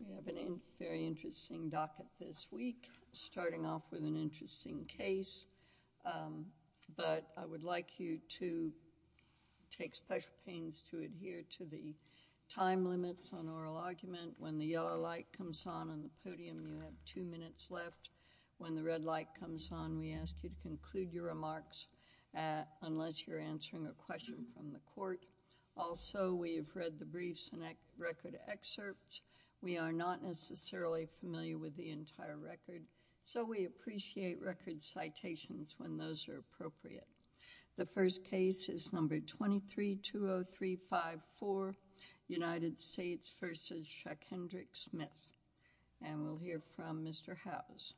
We have a very interesting docket this week, starting off with an interesting case, but I would like you to take special pains to adhere to the time limits on oral argument. When the yellow light comes on on the podium, you have two minutes left. When the red light comes on, we ask you to conclude your remarks unless you're answering a question from the court. Also, we have read the briefs and record excerpts. We are not necessarily familiar with the entire record, so we appreciate record citations when those are appropriate. The first case is number 2320354, United States v. Chuck Hendricks Smith, and we'll hear from Mr. Howes.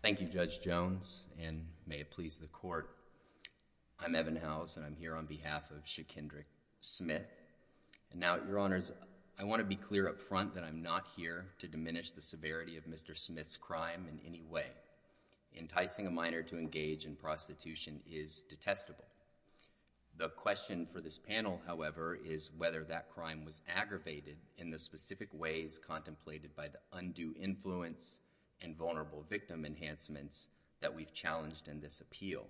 Thank you, Judge Jones, and may it please the Court. I'm Evan Howes, and I'm here on behalf of Chuck Hendricks Smith. Now, Your Honors, I want to be clear up front that I'm not here to diminish the severity of Mr. Smith's crime in any way. Enticing a minor to engage in prostitution is detestable. The question for this panel, however, is whether that crime was aggravated in the specific ways contemplated by the undue influence and vulnerable victim enhancements that we've challenged in this appeal.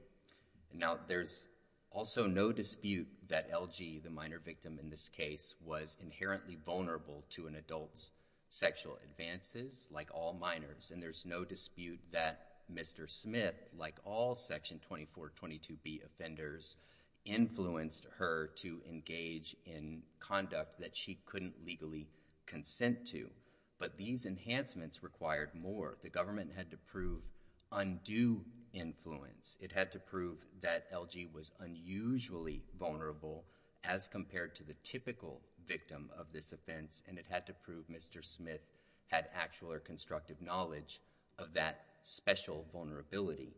Now, there's also no dispute that LG, the minor victim in this case, was inherently vulnerable to an adult's sexual advances, like all minors, and there's no dispute that Mr. Smith, like all Section 2422B offenders, influenced her to engage in conduct that she couldn't legally consent to, but these enhancements required more. The government had to prove undue influence. It had to prove that LG was unusually vulnerable as compared to the typical victim of this offense, and it had to prove Mr. Smith had actual or constructive knowledge of that special vulnerability.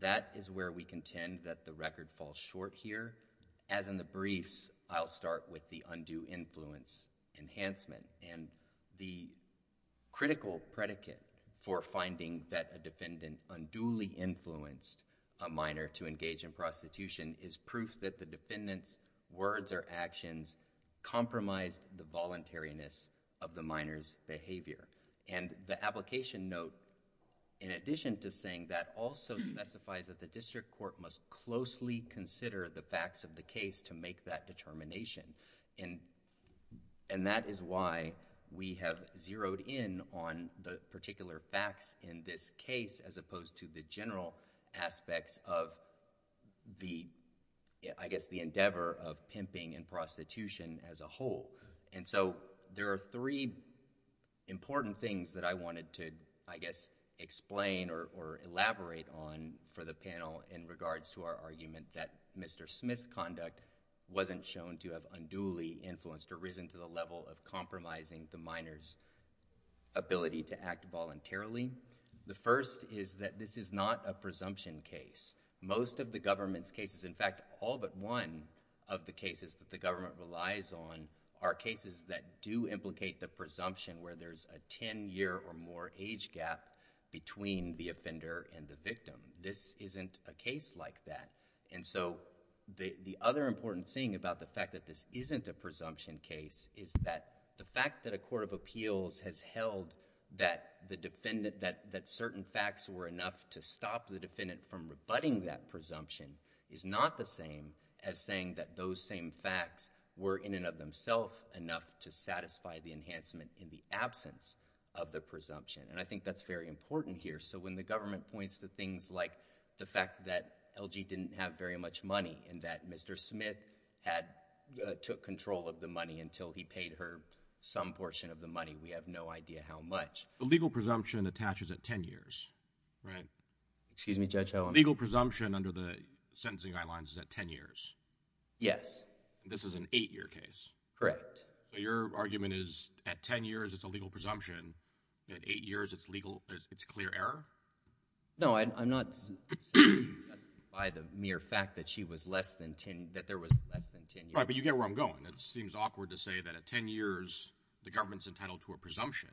That is where we contend that the record falls short here. As in the briefs, I'll start with the undue influence enhancement, and the critical predicate for finding that a defendant unduly influenced a minor to engage in prostitution is proof that the defendant's words or actions compromised the voluntariness of the minor's behavior, and the application note, in addition to saying that, also specifies that the district court must closely consider the facts of the case to make that determination, and that is why we have zeroed in on the particular facts in this case as opposed to the general aspects of the, I guess, the endeavor of pimping and prostitution as a whole. And so, there are three important things that I wanted to, I guess, explain or elaborate on for the panel in regards to our argument that Mr. Smith's conduct wasn't shown to have unduly influenced or risen to the level of compromising the minor's ability to act voluntarily. The first is that this is not a presumption case. Most of the government's cases, in fact, all but one of the cases that the government relies on are cases that do implicate the presumption where there's a 10-year or more age gap between the offender and the victim. This isn't a case like that. And so, the other important thing about the fact that this isn't a presumption case is that the fact that a court of appeals has held that the defendant, that certain facts were enough to stop the defendant from rebutting that presumption is not the same as saying that those same facts were, in and of themselves, enough to satisfy the enhancement in the absence of the presumption. And I think that's very important here. So, when the government points to things like the fact that LG didn't have very much money and that Mr. Smith had, took control of the money until he paid her some portion of the money, we have no idea how much. The legal presumption attaches at 10 years. Right. Excuse me, Judge Howland. The legal presumption under the sentencing guidelines is at 10 years. Yes. This is an 8-year case. Correct. So, your argument is at 10 years, it's a legal presumption. At 8 years, it's legal, it's clear error? No, I'm not suggesting by the mere fact that she was less than 10, that there was less than 10 years. Right, but you get where I'm going. It seems awkward to say that at 10 years, the government's entitled to a presumption.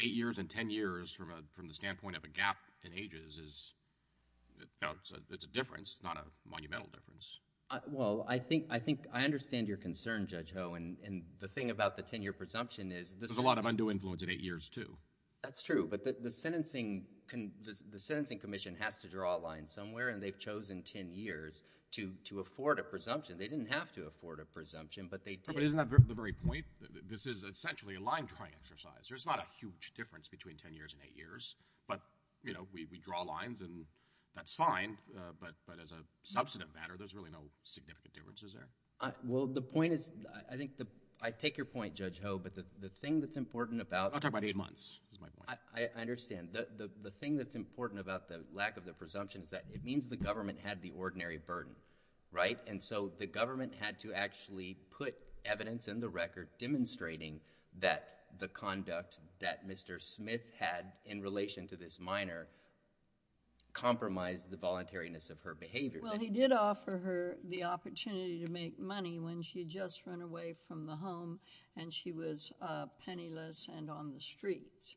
8 years and 10 years from the standpoint of a gap in ages is, you know, it's a difference, not a monumental difference. Well, I think, I understand your concern, Judge Howe, and the thing about the 10-year presumption is this is... There's a lot of undue influence at 8 years, too. That's true, but the sentencing commission has to draw a line somewhere, and they've chosen 10 years to afford a presumption. They didn't have to afford a presumption, but they didn't have to afford a presumption. But isn't that the very point? This is essentially a line-drawing exercise. There's not a huge difference between 10 years and 8 years, but, you know, we draw lines, and that's fine, but as a substantive matter, there's really no significant differences there. Well, the point is, I think, I take your point, Judge Howe, but the thing that's important about... I'm talking about 8 months, is my point. I understand. The thing that's important about the lack of the presumption is that it means the government had the ordinary burden, right? And so the government had to actually put evidence in the record demonstrating that the conduct that Mr. Smith had in relation to this minor compromised the voluntariness of her behavior. Well, he did offer her the opportunity to make money when she had just run away from the home, and she was penniless and on the streets,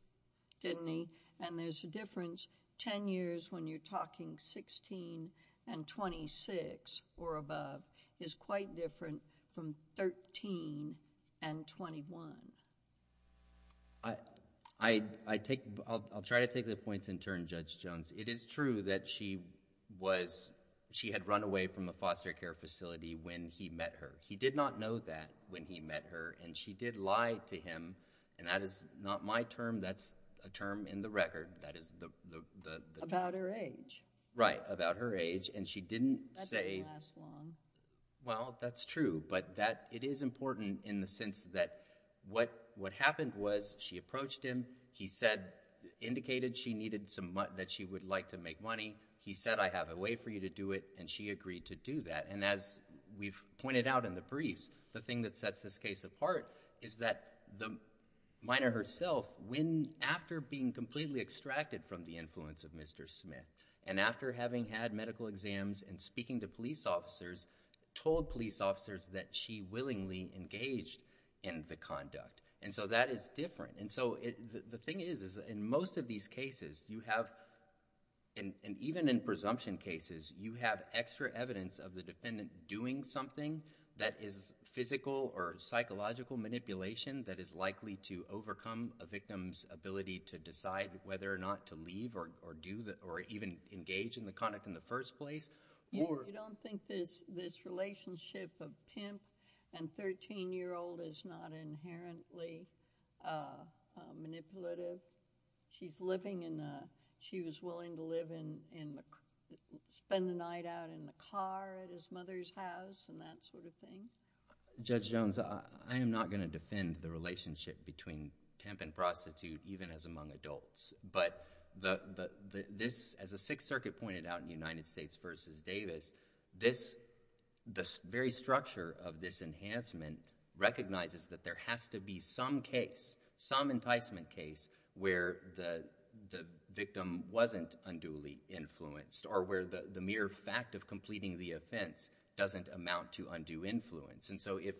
didn't he? And there's a difference. Ten years, when you're talking 16 and 26 or above, is quite different from 13 and 21. I'll try to take the points in turn, Judge Jones. It is true that she had run away from a foster care facility when he met her. He did not know that when he met her, and she did lie to him, and that is not my term, that's a term in the record, that is the... About her age. Right, about her age, and she didn't say... That doesn't last long. Well, that's true, but it is important in the sense that what happened was she approached him, he said, indicated she needed some money, that she would like to make money. He said, I have a way for you to do it, and she agreed to do that. And as we've pointed out in the case, is that the minor herself, after being completely extracted from the influence of Mr. Smith, and after having had medical exams and speaking to police officers, told police officers that she willingly engaged in the conduct. And so that is different. And so the thing is, in most of these cases, you have, and even in presumption cases, you have extra evidence of the defendant doing something that is physical or psychological manipulation that is likely to overcome a victim's ability to decide whether or not to leave or do, or even engage in the conduct in the first place, or... You don't think this relationship of pimp and 13-year-old is not inherently manipulative? She's living in a, she was willing to live in, spend the night out in a car at his mother's house and that sort of thing? Judge Jones, I am not going to defend the relationship between pimp and prostitute even as among adults, but this, as the Sixth Circuit pointed out in United States v. Davis, this, the very structure of this enhancement recognizes that there has to be some case, some enticement case, where the victim wasn't unduly influenced or where the mere fact of completing the offense doesn't amount to undue influence. And so if,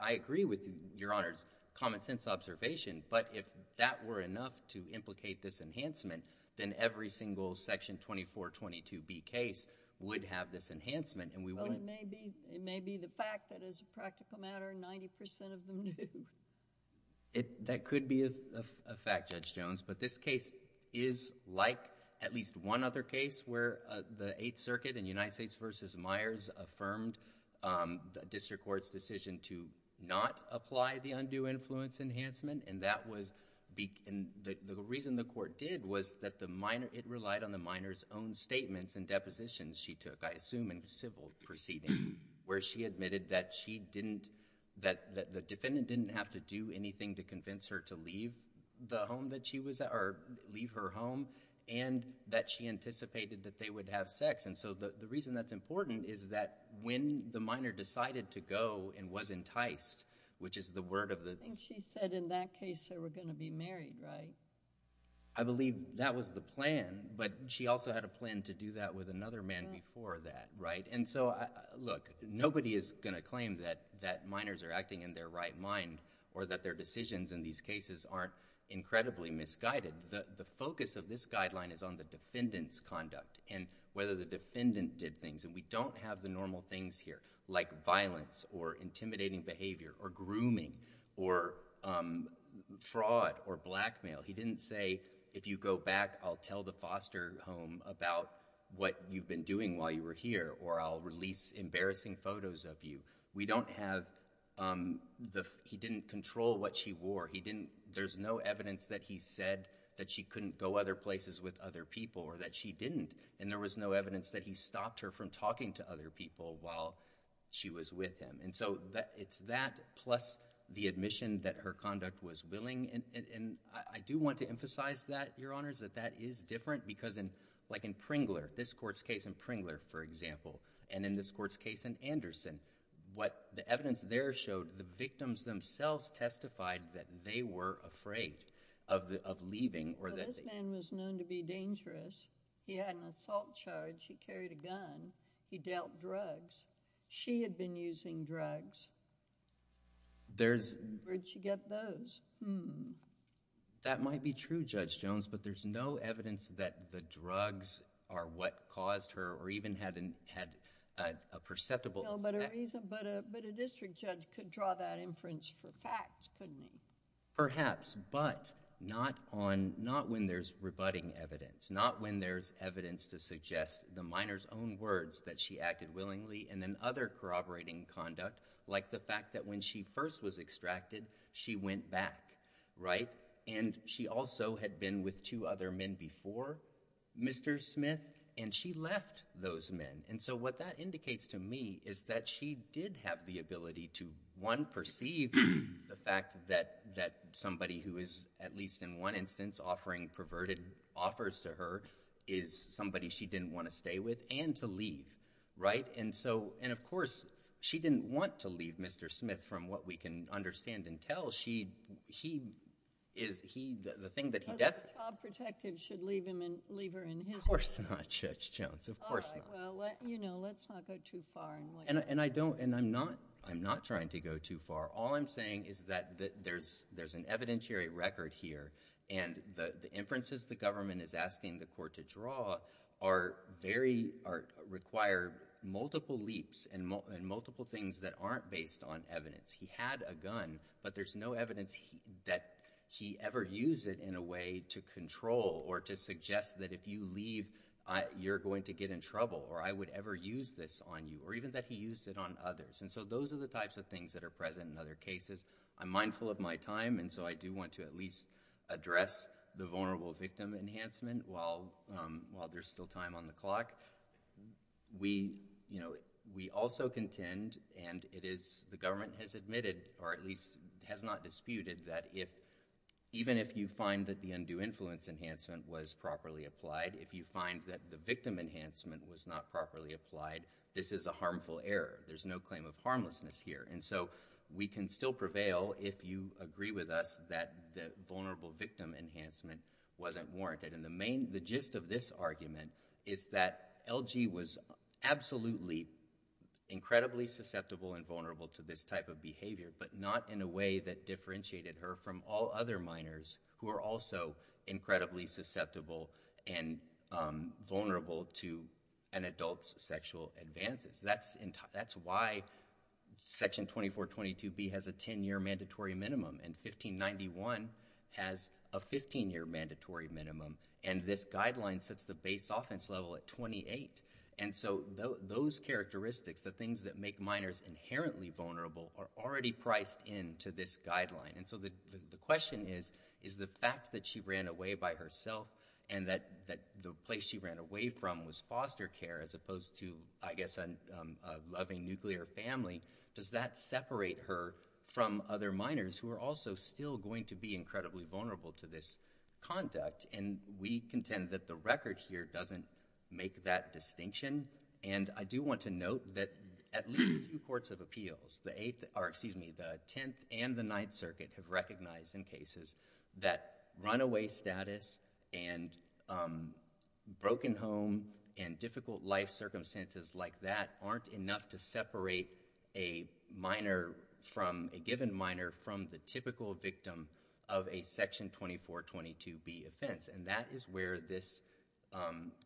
I agree with Your Honor's common sense observation, but if that were enough to implicate this enhancement, then every single Section 2422B case would have this enhancement and we wouldn't... Well, it may be, it may be the fact that as a practical matter, 90% of them do. It, that could be a fact, Judge Jones, but this case is like at least one other case where the Eighth Circuit in United States v. Myers affirmed the district court's decision to not apply the undue influence enhancement and that was, the reason the court did was that the minor, it relied on the minor's own statements and depositions she took, I assume in civil proceedings, where she admitted that she didn't, that the defendant didn't have to do anything to convince her to leave the home that she was at or leave her home and that she anticipated that they would have sex. And so the reason that's important is that when the minor decided to go and was enticed, which is the word of the... I think she said in that case they were going to be married, right? I believe that was the plan, but she also had a plan to do that with another man before that, right? And so, look, nobody is going to claim that, that minors are acting in their right mind or that their decisions in these cases aren't incredibly misguided. The focus of this guideline is on the defendant's conduct and whether the defendant did things, and we don't have the normal things here like violence or intimidating behavior or grooming or fraud or blackmail. He didn't say, if you go back, I'll tell the foster home about what you've been doing while you were here or I'll release embarrassing photos of you. We don't have the... He didn't control what she wore. He didn't... There's no evidence that he said that she couldn't go other places with other people or that she didn't, and there was no evidence that he stopped her from talking to other people while she was with him. And so it's that plus the admission that her conduct was willing, and I do want to emphasize that, Your Honors, that that is different because in, like in Pringler, this court's case in Pringler, for example, and in this court's case in Anderson, what the evidence there showed, the victims themselves testified that they were afraid of leaving or that... Well, this man was known to be dangerous. He had an assault charge. He carried a gun. He dealt drugs. She had been using drugs. There's... Where'd she get those? Hmm. That might be true, Judge Jones, but there's no evidence that the drugs are what caused her or even had a perceptible... No, but a reason... But a district judge could draw that inference for facts, couldn't he? Perhaps, but not on... Not when there's rebutting evidence. Not when there's evidence to suggest the minor's own words that she acted willingly and then other corroborating conduct, like the fact that when she first was extracted, she went back, right? And she also had been with two other men before Mr. Smith, and she left those men. And so what that indicates to me is that she did have the ability to, one, perceive the fact that somebody who is, at least in one instance, offering perverted offers to her is somebody she didn't want to stay with and to leave, right? And so... And of course, she didn't want to leave Mr. Smith from what we can understand and tell. She... He is... He... The thing that he definitely... A job protective should leave him and leave her in his hands. Of course not, Judge Jones. Of course not. All right. Well, let... You know, let's not go too far in what you're saying. And I don't... And I'm not... I'm not trying to go too far. All I'm saying is that there's an evidentiary record here, and the inferences the government is asking the court to draw are very... Are... Require multiple leaps and multiple things that aren't based on evidence. He had a gun, but there's no evidence that he ever used it in a way to control or to suggest that if you leave, you're going to get in trouble, or I would ever use this on you, or even that he used it on others. And so those are the types of things that are present in other cases. I'm mindful of my time, and so I do want to at least address the vulnerable victim enhancement while there's still time on the clock. We, you know, we also contend, and it is... The government has admitted, or at least has not disputed that if... Even if you find that the undue influence enhancement was properly applied, if you find that the victim enhancement was not properly applied, this is a harmful error. There's no claim of harmlessness here. And so we can still prevail if you agree with us that the vulnerable victim enhancement wasn't warranted. And the main... The gist of this argument is that LG was absolutely incredibly susceptible and vulnerable to this type of behavior, but not in a way that differentiated her from all other minors who are also incredibly susceptible and vulnerable to an adult's sexual advances. That's... That's why Section 2422B has a 10-year mandatory minimum, and 1591 has a 15-year mandatory minimum, and this guideline sets the base offense level at 28. And so those characteristics, the things that make minors inherently vulnerable, are already priced into this guideline. And so the question is, is the fact that she ran away by herself, and that the place she ran away from was foster care as opposed to, I guess, a loving nuclear family, does that separate her from other minors who are also still going to be incredibly vulnerable to this conduct? And we contend that the record here doesn't make that distinction. And I do want to note that at least two courts of appeals, the Eighth... Or excuse me, the Tenth and the Ninth Circuit have recognized in cases that runaway status and broken home and difficult life circumstances like that aren't enough to separate a minor from... A given minor from the typical victim of a Section 2422B offense. And that is where this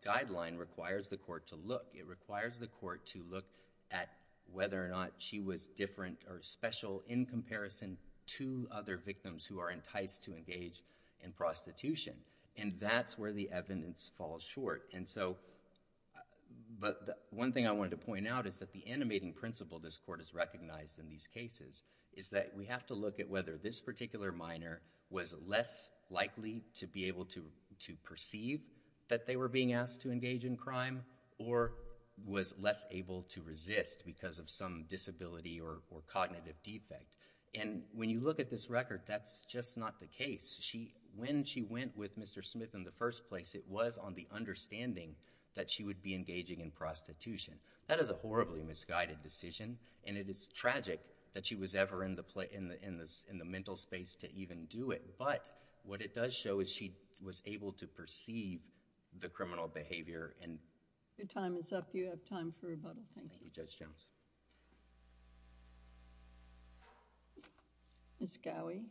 guideline requires the court to look. It requires the court to look at whether or not she was different or special in comparison to other victims who are enticed to engage in prostitution. And that's where the evidence falls short. And so... But one thing I wanted to point out is that the animating principle this court has recognized in these cases is that we have to look at whether this particular minor was less likely to be able to perceive that they were being asked to engage in crime, or was less able to resist because of some disability or cognitive defect. And when you look at this record, that's just not the case. When she went with Mr. Smith in the first place, it was on the understanding that she would be engaging in prostitution. That is a horribly misguided decision, and it is tragic that she was ever in the mental space to even do it. But what it does show is she was able to perceive the criminal behavior and... Your time is up. You have time for rebuttal. Thank you, Judge Jones. Ms. Gowey.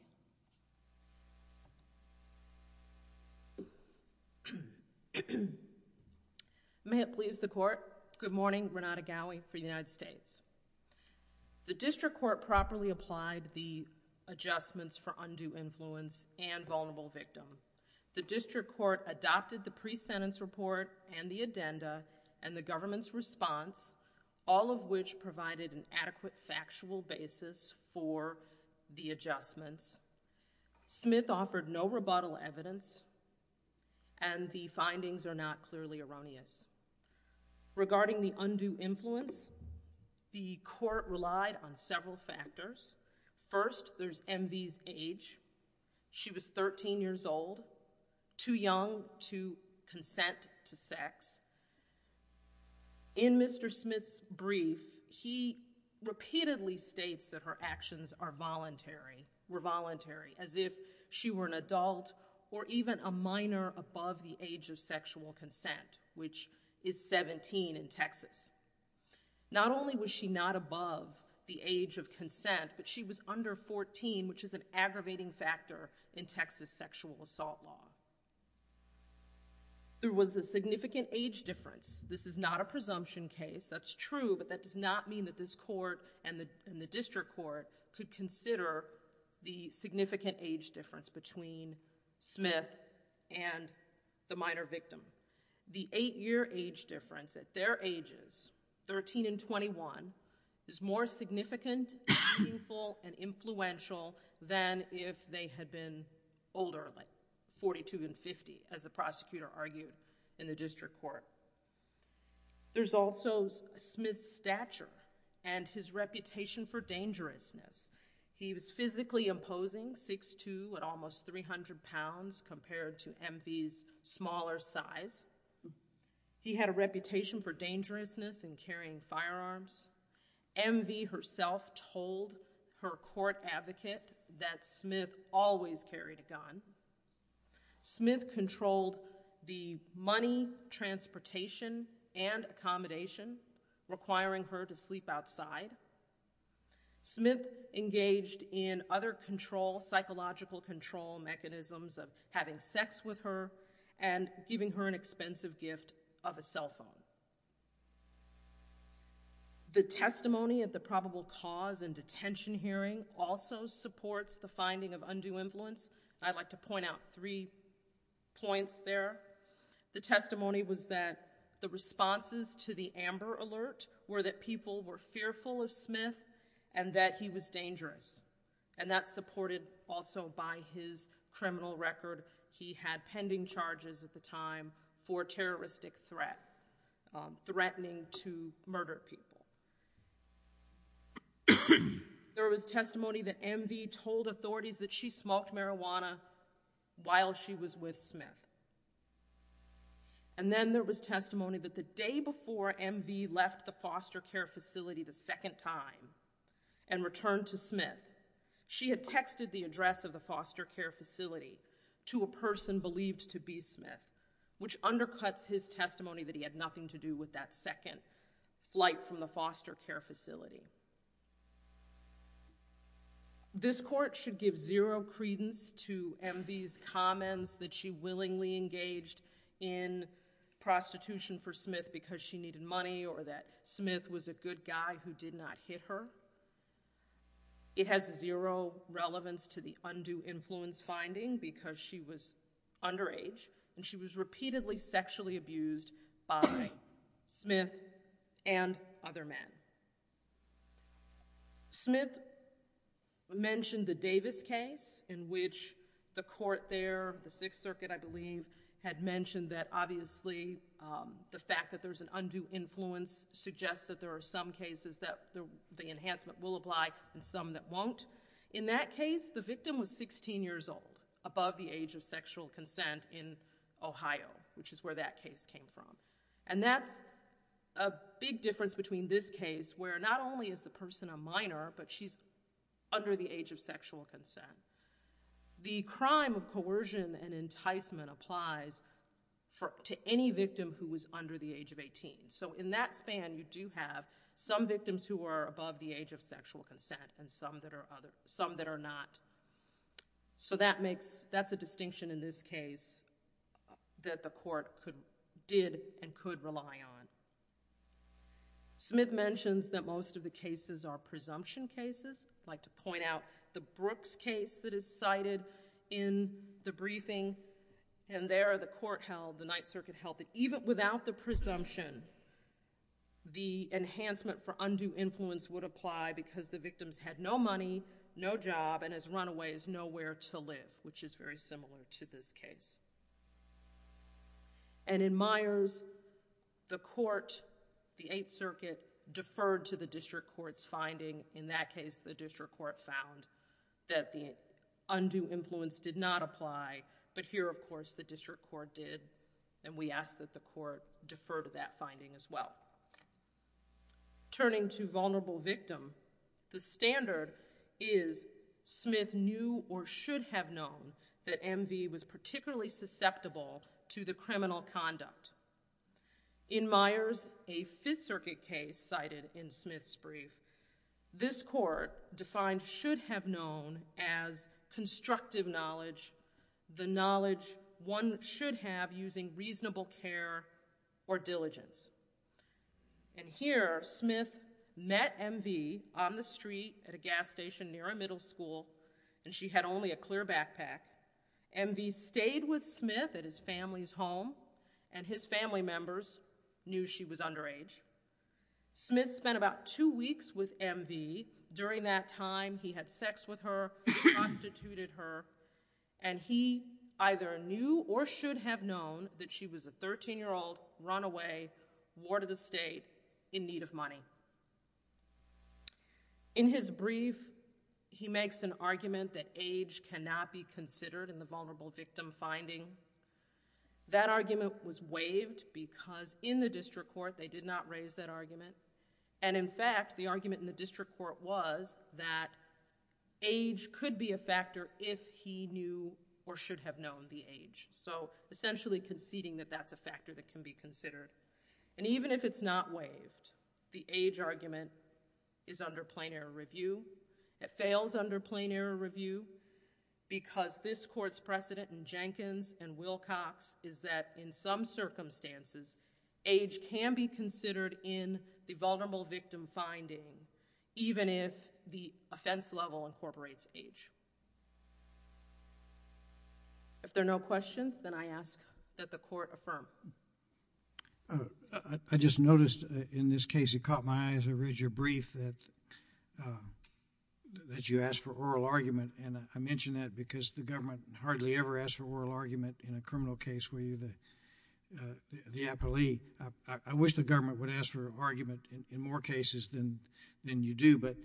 May it please the Court. Good morning. Renata Gowey for the United States. The District Court properly applied the adjustments for undue influence and vulnerable victim. The District Court adopted the pre-sentence report and the addenda and the government's response, all of which provided an adequate factual basis for the adjustments. Smith offered no rebuttal evidence, and the findings are not clearly erroneous. Regarding the undue influence, the Court relied on several factors. First, there's MV's age. She was 13 years old, too young to consent to sex. In Mr. Smith's brief, he repeatedly states that her actions were voluntary, as if she were an adult or even a minor above the age of sexual consent, which is 17 in Texas. Not only was she not above the age of consent, but she was under 14, which is an aggravating factor in Texas sexual assault law. There was a significant age difference. This is not a presumption case. That's true, but that does not mean that this Court and the District Court could consider the significant age difference between Smith and the minor victim. The eight-year age difference at their ages, 13 and 21, is more significant, meaningful, and influential than if they had been older, like 42 and 50, as the prosecutor argued in the District Court. There's also Smith's stature and his reputation for dangerousness. He was physically imposing, 6'2", at almost 300 pounds, compared to MV's smaller size. He had a reputation for dangerousness in carrying firearms. MV herself told her court advocate that Smith always carried a gun. Smith controlled the money, transportation, and accommodation, requiring her to sleep outside. Smith engaged in other control, psychological control mechanisms of having sex with her and giving her an expensive gift of a cell phone. The testimony at the probable cause and detention hearing also supports the finding of undue influence. I'd like to point out three points there. The testimony was that the responses to the Amber Alert were that people were fearful of Smith and that he was dangerous. And that's supported also by his criminal record. He had pending charges at the time for terroristic threat, threatening to murder people. There was testimony that MV told authorities that she smoked marijuana while she was with Smith. And then there was testimony that the day before MV left the foster care facility the second time and returned to Smith, she had texted the address of the foster care facility to a person believed to be Smith, which undercuts his testimony that he had nothing to do with that second flight from the foster care facility. This court should give zero credence to MV's comments that she willingly engaged in prostitution for Smith because she needed money or that Smith was a good guy who did not hit her. It has zero relevance to the undue influence finding because she was underage and she was repeatedly sexually abused by Smith and other men. Smith mentioned the Davis case in which the court there, the Sixth Circuit I believe, had mentioned that obviously the fact that there's an undue influence suggests that there are some cases that the enhancement will apply and some that won't. In that case, the victim was 16 years old, above the age of sexual consent in Ohio, which is where that case came from. And that's a big difference between this case, where not only is the person a minor, but she's under the age of sexual consent. The crime of coercion and enticement applies to any victim who was under the age of 18. So in that span, you do have some victims who are above the age of sexual consent and some that are other, some that are not. So that makes, that's a distinction in this case that the court could, did and could rely on. Smith mentions that most of the cases are presumption cases. I'd like to point out the Brooks case that is cited in the briefing, and there the court held, the Ninth Circuit held, that even without the presumption, the enhancement for undue influence would apply because the victims had no money, no job, and as runaways, nowhere to live, which is very similar to this case. And in Myers, the court, the Eighth Circuit, deferred to the district court's finding. In that case, the district court found that the undue influence did not apply, but here, of course, the district court did, and we ask that the court defer to that finding as well. Turning to vulnerable victim, the standard is Smith knew or should have known that MV was particularly susceptible to the criminal conduct. In Myers, a Fifth Circuit case cited in Smith's brief, this court defined should have known as constructive knowledge, the knowledge one should have using reasonable care or diligence. And here, Smith met MV on the street at a gas station near a middle school, and she had only a clear backpack. MV stayed with Smith at his family's home, and his family members knew she was underage. Smith spent about two weeks with MV. During that time, he had sex with her, prostituted her, and he either knew or should have known that she was a 13-year-old runaway, ward of the state, in need of money. In his brief, he makes an argument that age cannot be considered in the vulnerable victim finding. That argument was waived because in the district court, they did not raise that argument, and in fact, the argument in the district court was that age could be a factor if he knew or should have known the age. So, essentially conceding that that's a factor that can be considered. And even if it's not waived, the age argument is under plain error review. It fails under plain error review because this court's precedent in Jenkins and Wilcox is that in some circumstances, age can be considered in the vulnerable victim finding, even if the offense level incorporates age. If there are no questions, then I ask that the court affirm. I just noticed in this case, it caught my eye as I read your brief that you asked for oral argument, and I mention that because the government hardly ever asks for oral the appellee. I wish the government would ask for argument in more cases than you do, but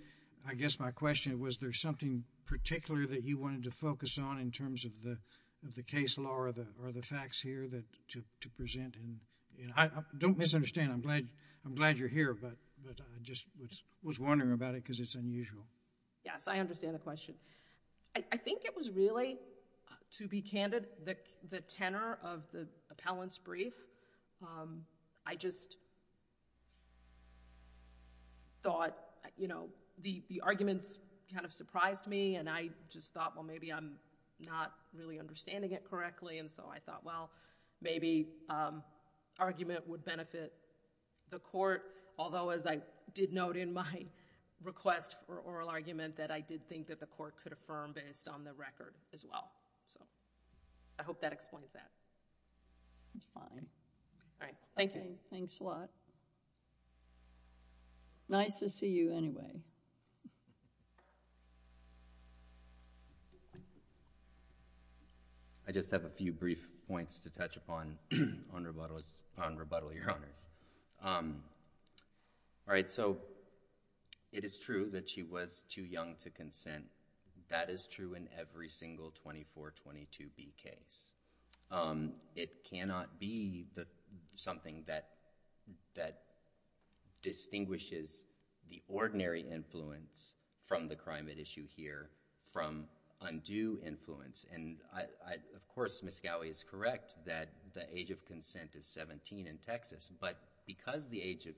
I guess my question was there something particular that you wanted to focus on in terms of the case law or the facts here to present? Don't misunderstand. I'm glad you're here, but I just was wondering about it because it's unusual. Yes, I understand the question. I think it was really, to be candid, the tenor of the appellant's brief. I just thought, you know, the arguments kind of surprised me, and I just thought, well, maybe I'm not really understanding it correctly, and so I thought, well, maybe argument would benefit the court. Although, as I did note in my request for oral argument, that I did think that the court could affirm based on the record as well, so I hope that explains that. That's fine. All right. Thank you. Thanks a lot. Nice to see you anyway. I just have a few brief points to touch upon on rebuttal, Your Honors. All right, so it is true that she was too young to consent. That is true in every single 2422B case. It cannot be something that distinguishes the ordinary influence from the crime at issue here from undue influence, and of course, Ms. Gowey is correct that the age of consent is 17 in Texas, but because the age of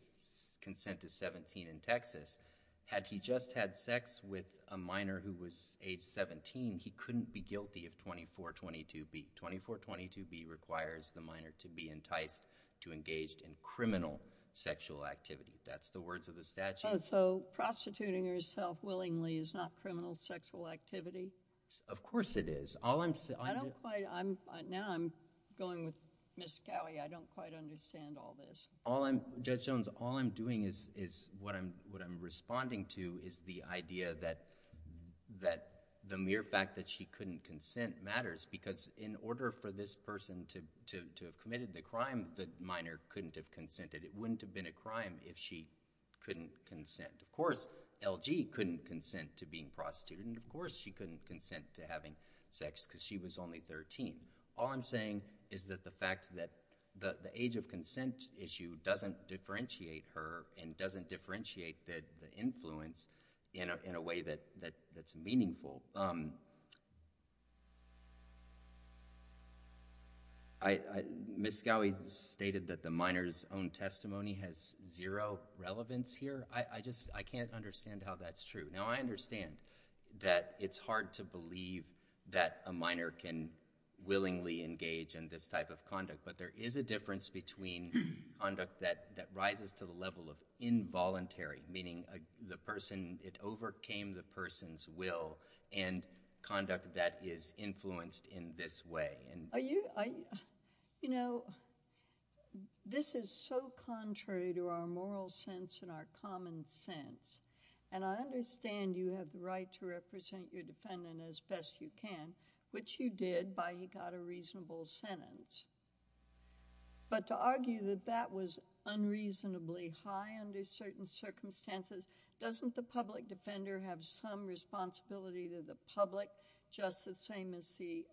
consent is 17 in Texas, had he just had sex with a minor who was age 17, he couldn't be guilty of 2422B. 2422B requires the minor to be enticed to engage in criminal sexual activity. That's the words of the statute. Oh, so prostituting herself willingly is not criminal sexual activity? Of course it is. Now I'm going with Ms. Gowey. I don't quite understand all this. Judge Jones, all I'm doing is what I'm responding to is the idea that the mere fact that she couldn't consent matters because in order for this person to have committed the crime, the minor couldn't have consented. It wouldn't have been a crime if she couldn't consent. Of course, LG couldn't consent to being prostituted, and of course, she couldn't consent to having sex because she was only 13. All I'm saying is that the fact that the age of consent issue doesn't differentiate her and doesn't differentiate the influence in a way that's meaningful. Ms. Gowey stated that the minor's own testimony has zero relevance here. I can't understand how that's true. Now I understand that it's hard to believe that a minor can willingly engage in this type of conduct, but there is a difference between conduct that rises to the level of involuntary, meaning it overcame the person's will, and conduct that is influenced in this way. Are you... you know, this is so contrary to our moral sense and our common sense, and I understand you have the right to represent your defendant as best you can, which you did by he got a reasonable sentence, but to argue that that was unreasonably high under certain circumstances, doesn't the public defender have some responsibility to the public just the same as the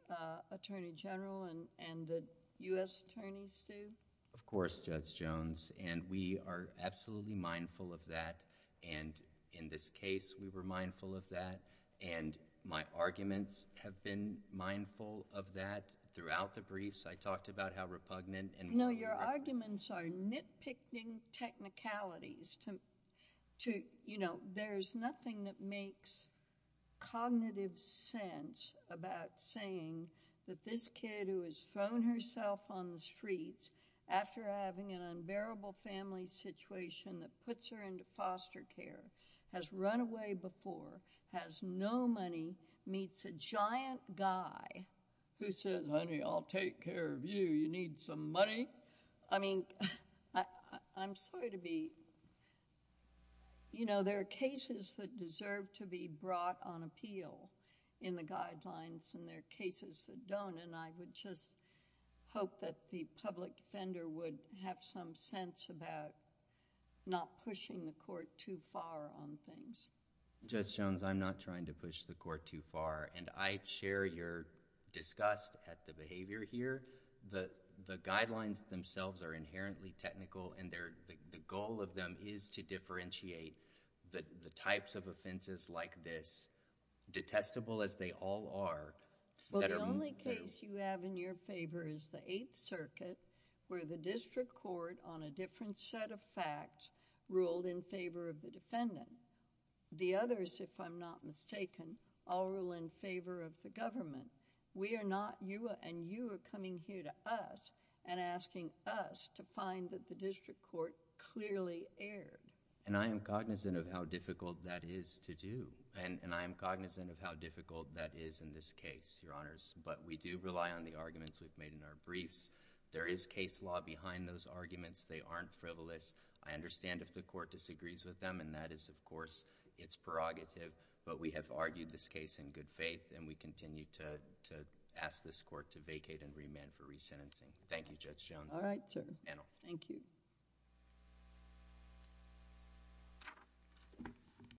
attorney general and the U.S. attorneys do? Of course, Judge Jones, and we are absolutely mindful of that, and in this case, we were mindful of that, and my arguments have been mindful of that throughout the briefs. I talked about how repugnant... No, your arguments are nitpicking technicalities. There's nothing that makes cognitive sense about saying that this kid who has thrown herself on the streets after having an unbearable family situation that puts her into foster care, has run away before, has no money, meets a giant guy who says, Honey, I'll take care of you. You need some money? I mean, I'm sorry to be... you know, there are cases that deserve to be brought on appeal in the guidelines, and there are cases that don't, and I would just hope that the public defender would have some sense about not pushing the court too far on things. Judge Jones, I'm not trying to push the court too far, and I share your disgust at the behavior here. The guidelines themselves are inherently technical, and the goal of them is to differentiate the types of offenses like this, detestable as they all are... Well, the only case you have in your favor is the Eighth Circuit where the district court on a different set of facts ruled in favor of the defendant. The others, if I'm not mistaken, all rule in favor of the government. We are not... you and you are coming here to us and asking us to find that the district court clearly erred. And I am cognizant of how difficult that is to do, and I am cognizant of how difficult that is in this case, Your Honors, but we do rely on the arguments we've made in our briefs. There is case law behind those arguments. They aren't frivolous. I understand if the court disagrees with them, and that is, of course, its prerogative, but we have argued this case in good faith, and we continue to ask this court to vacate and remand for resentencing. Thank you, Judge Jones. All right, sir. Panel. Thank you.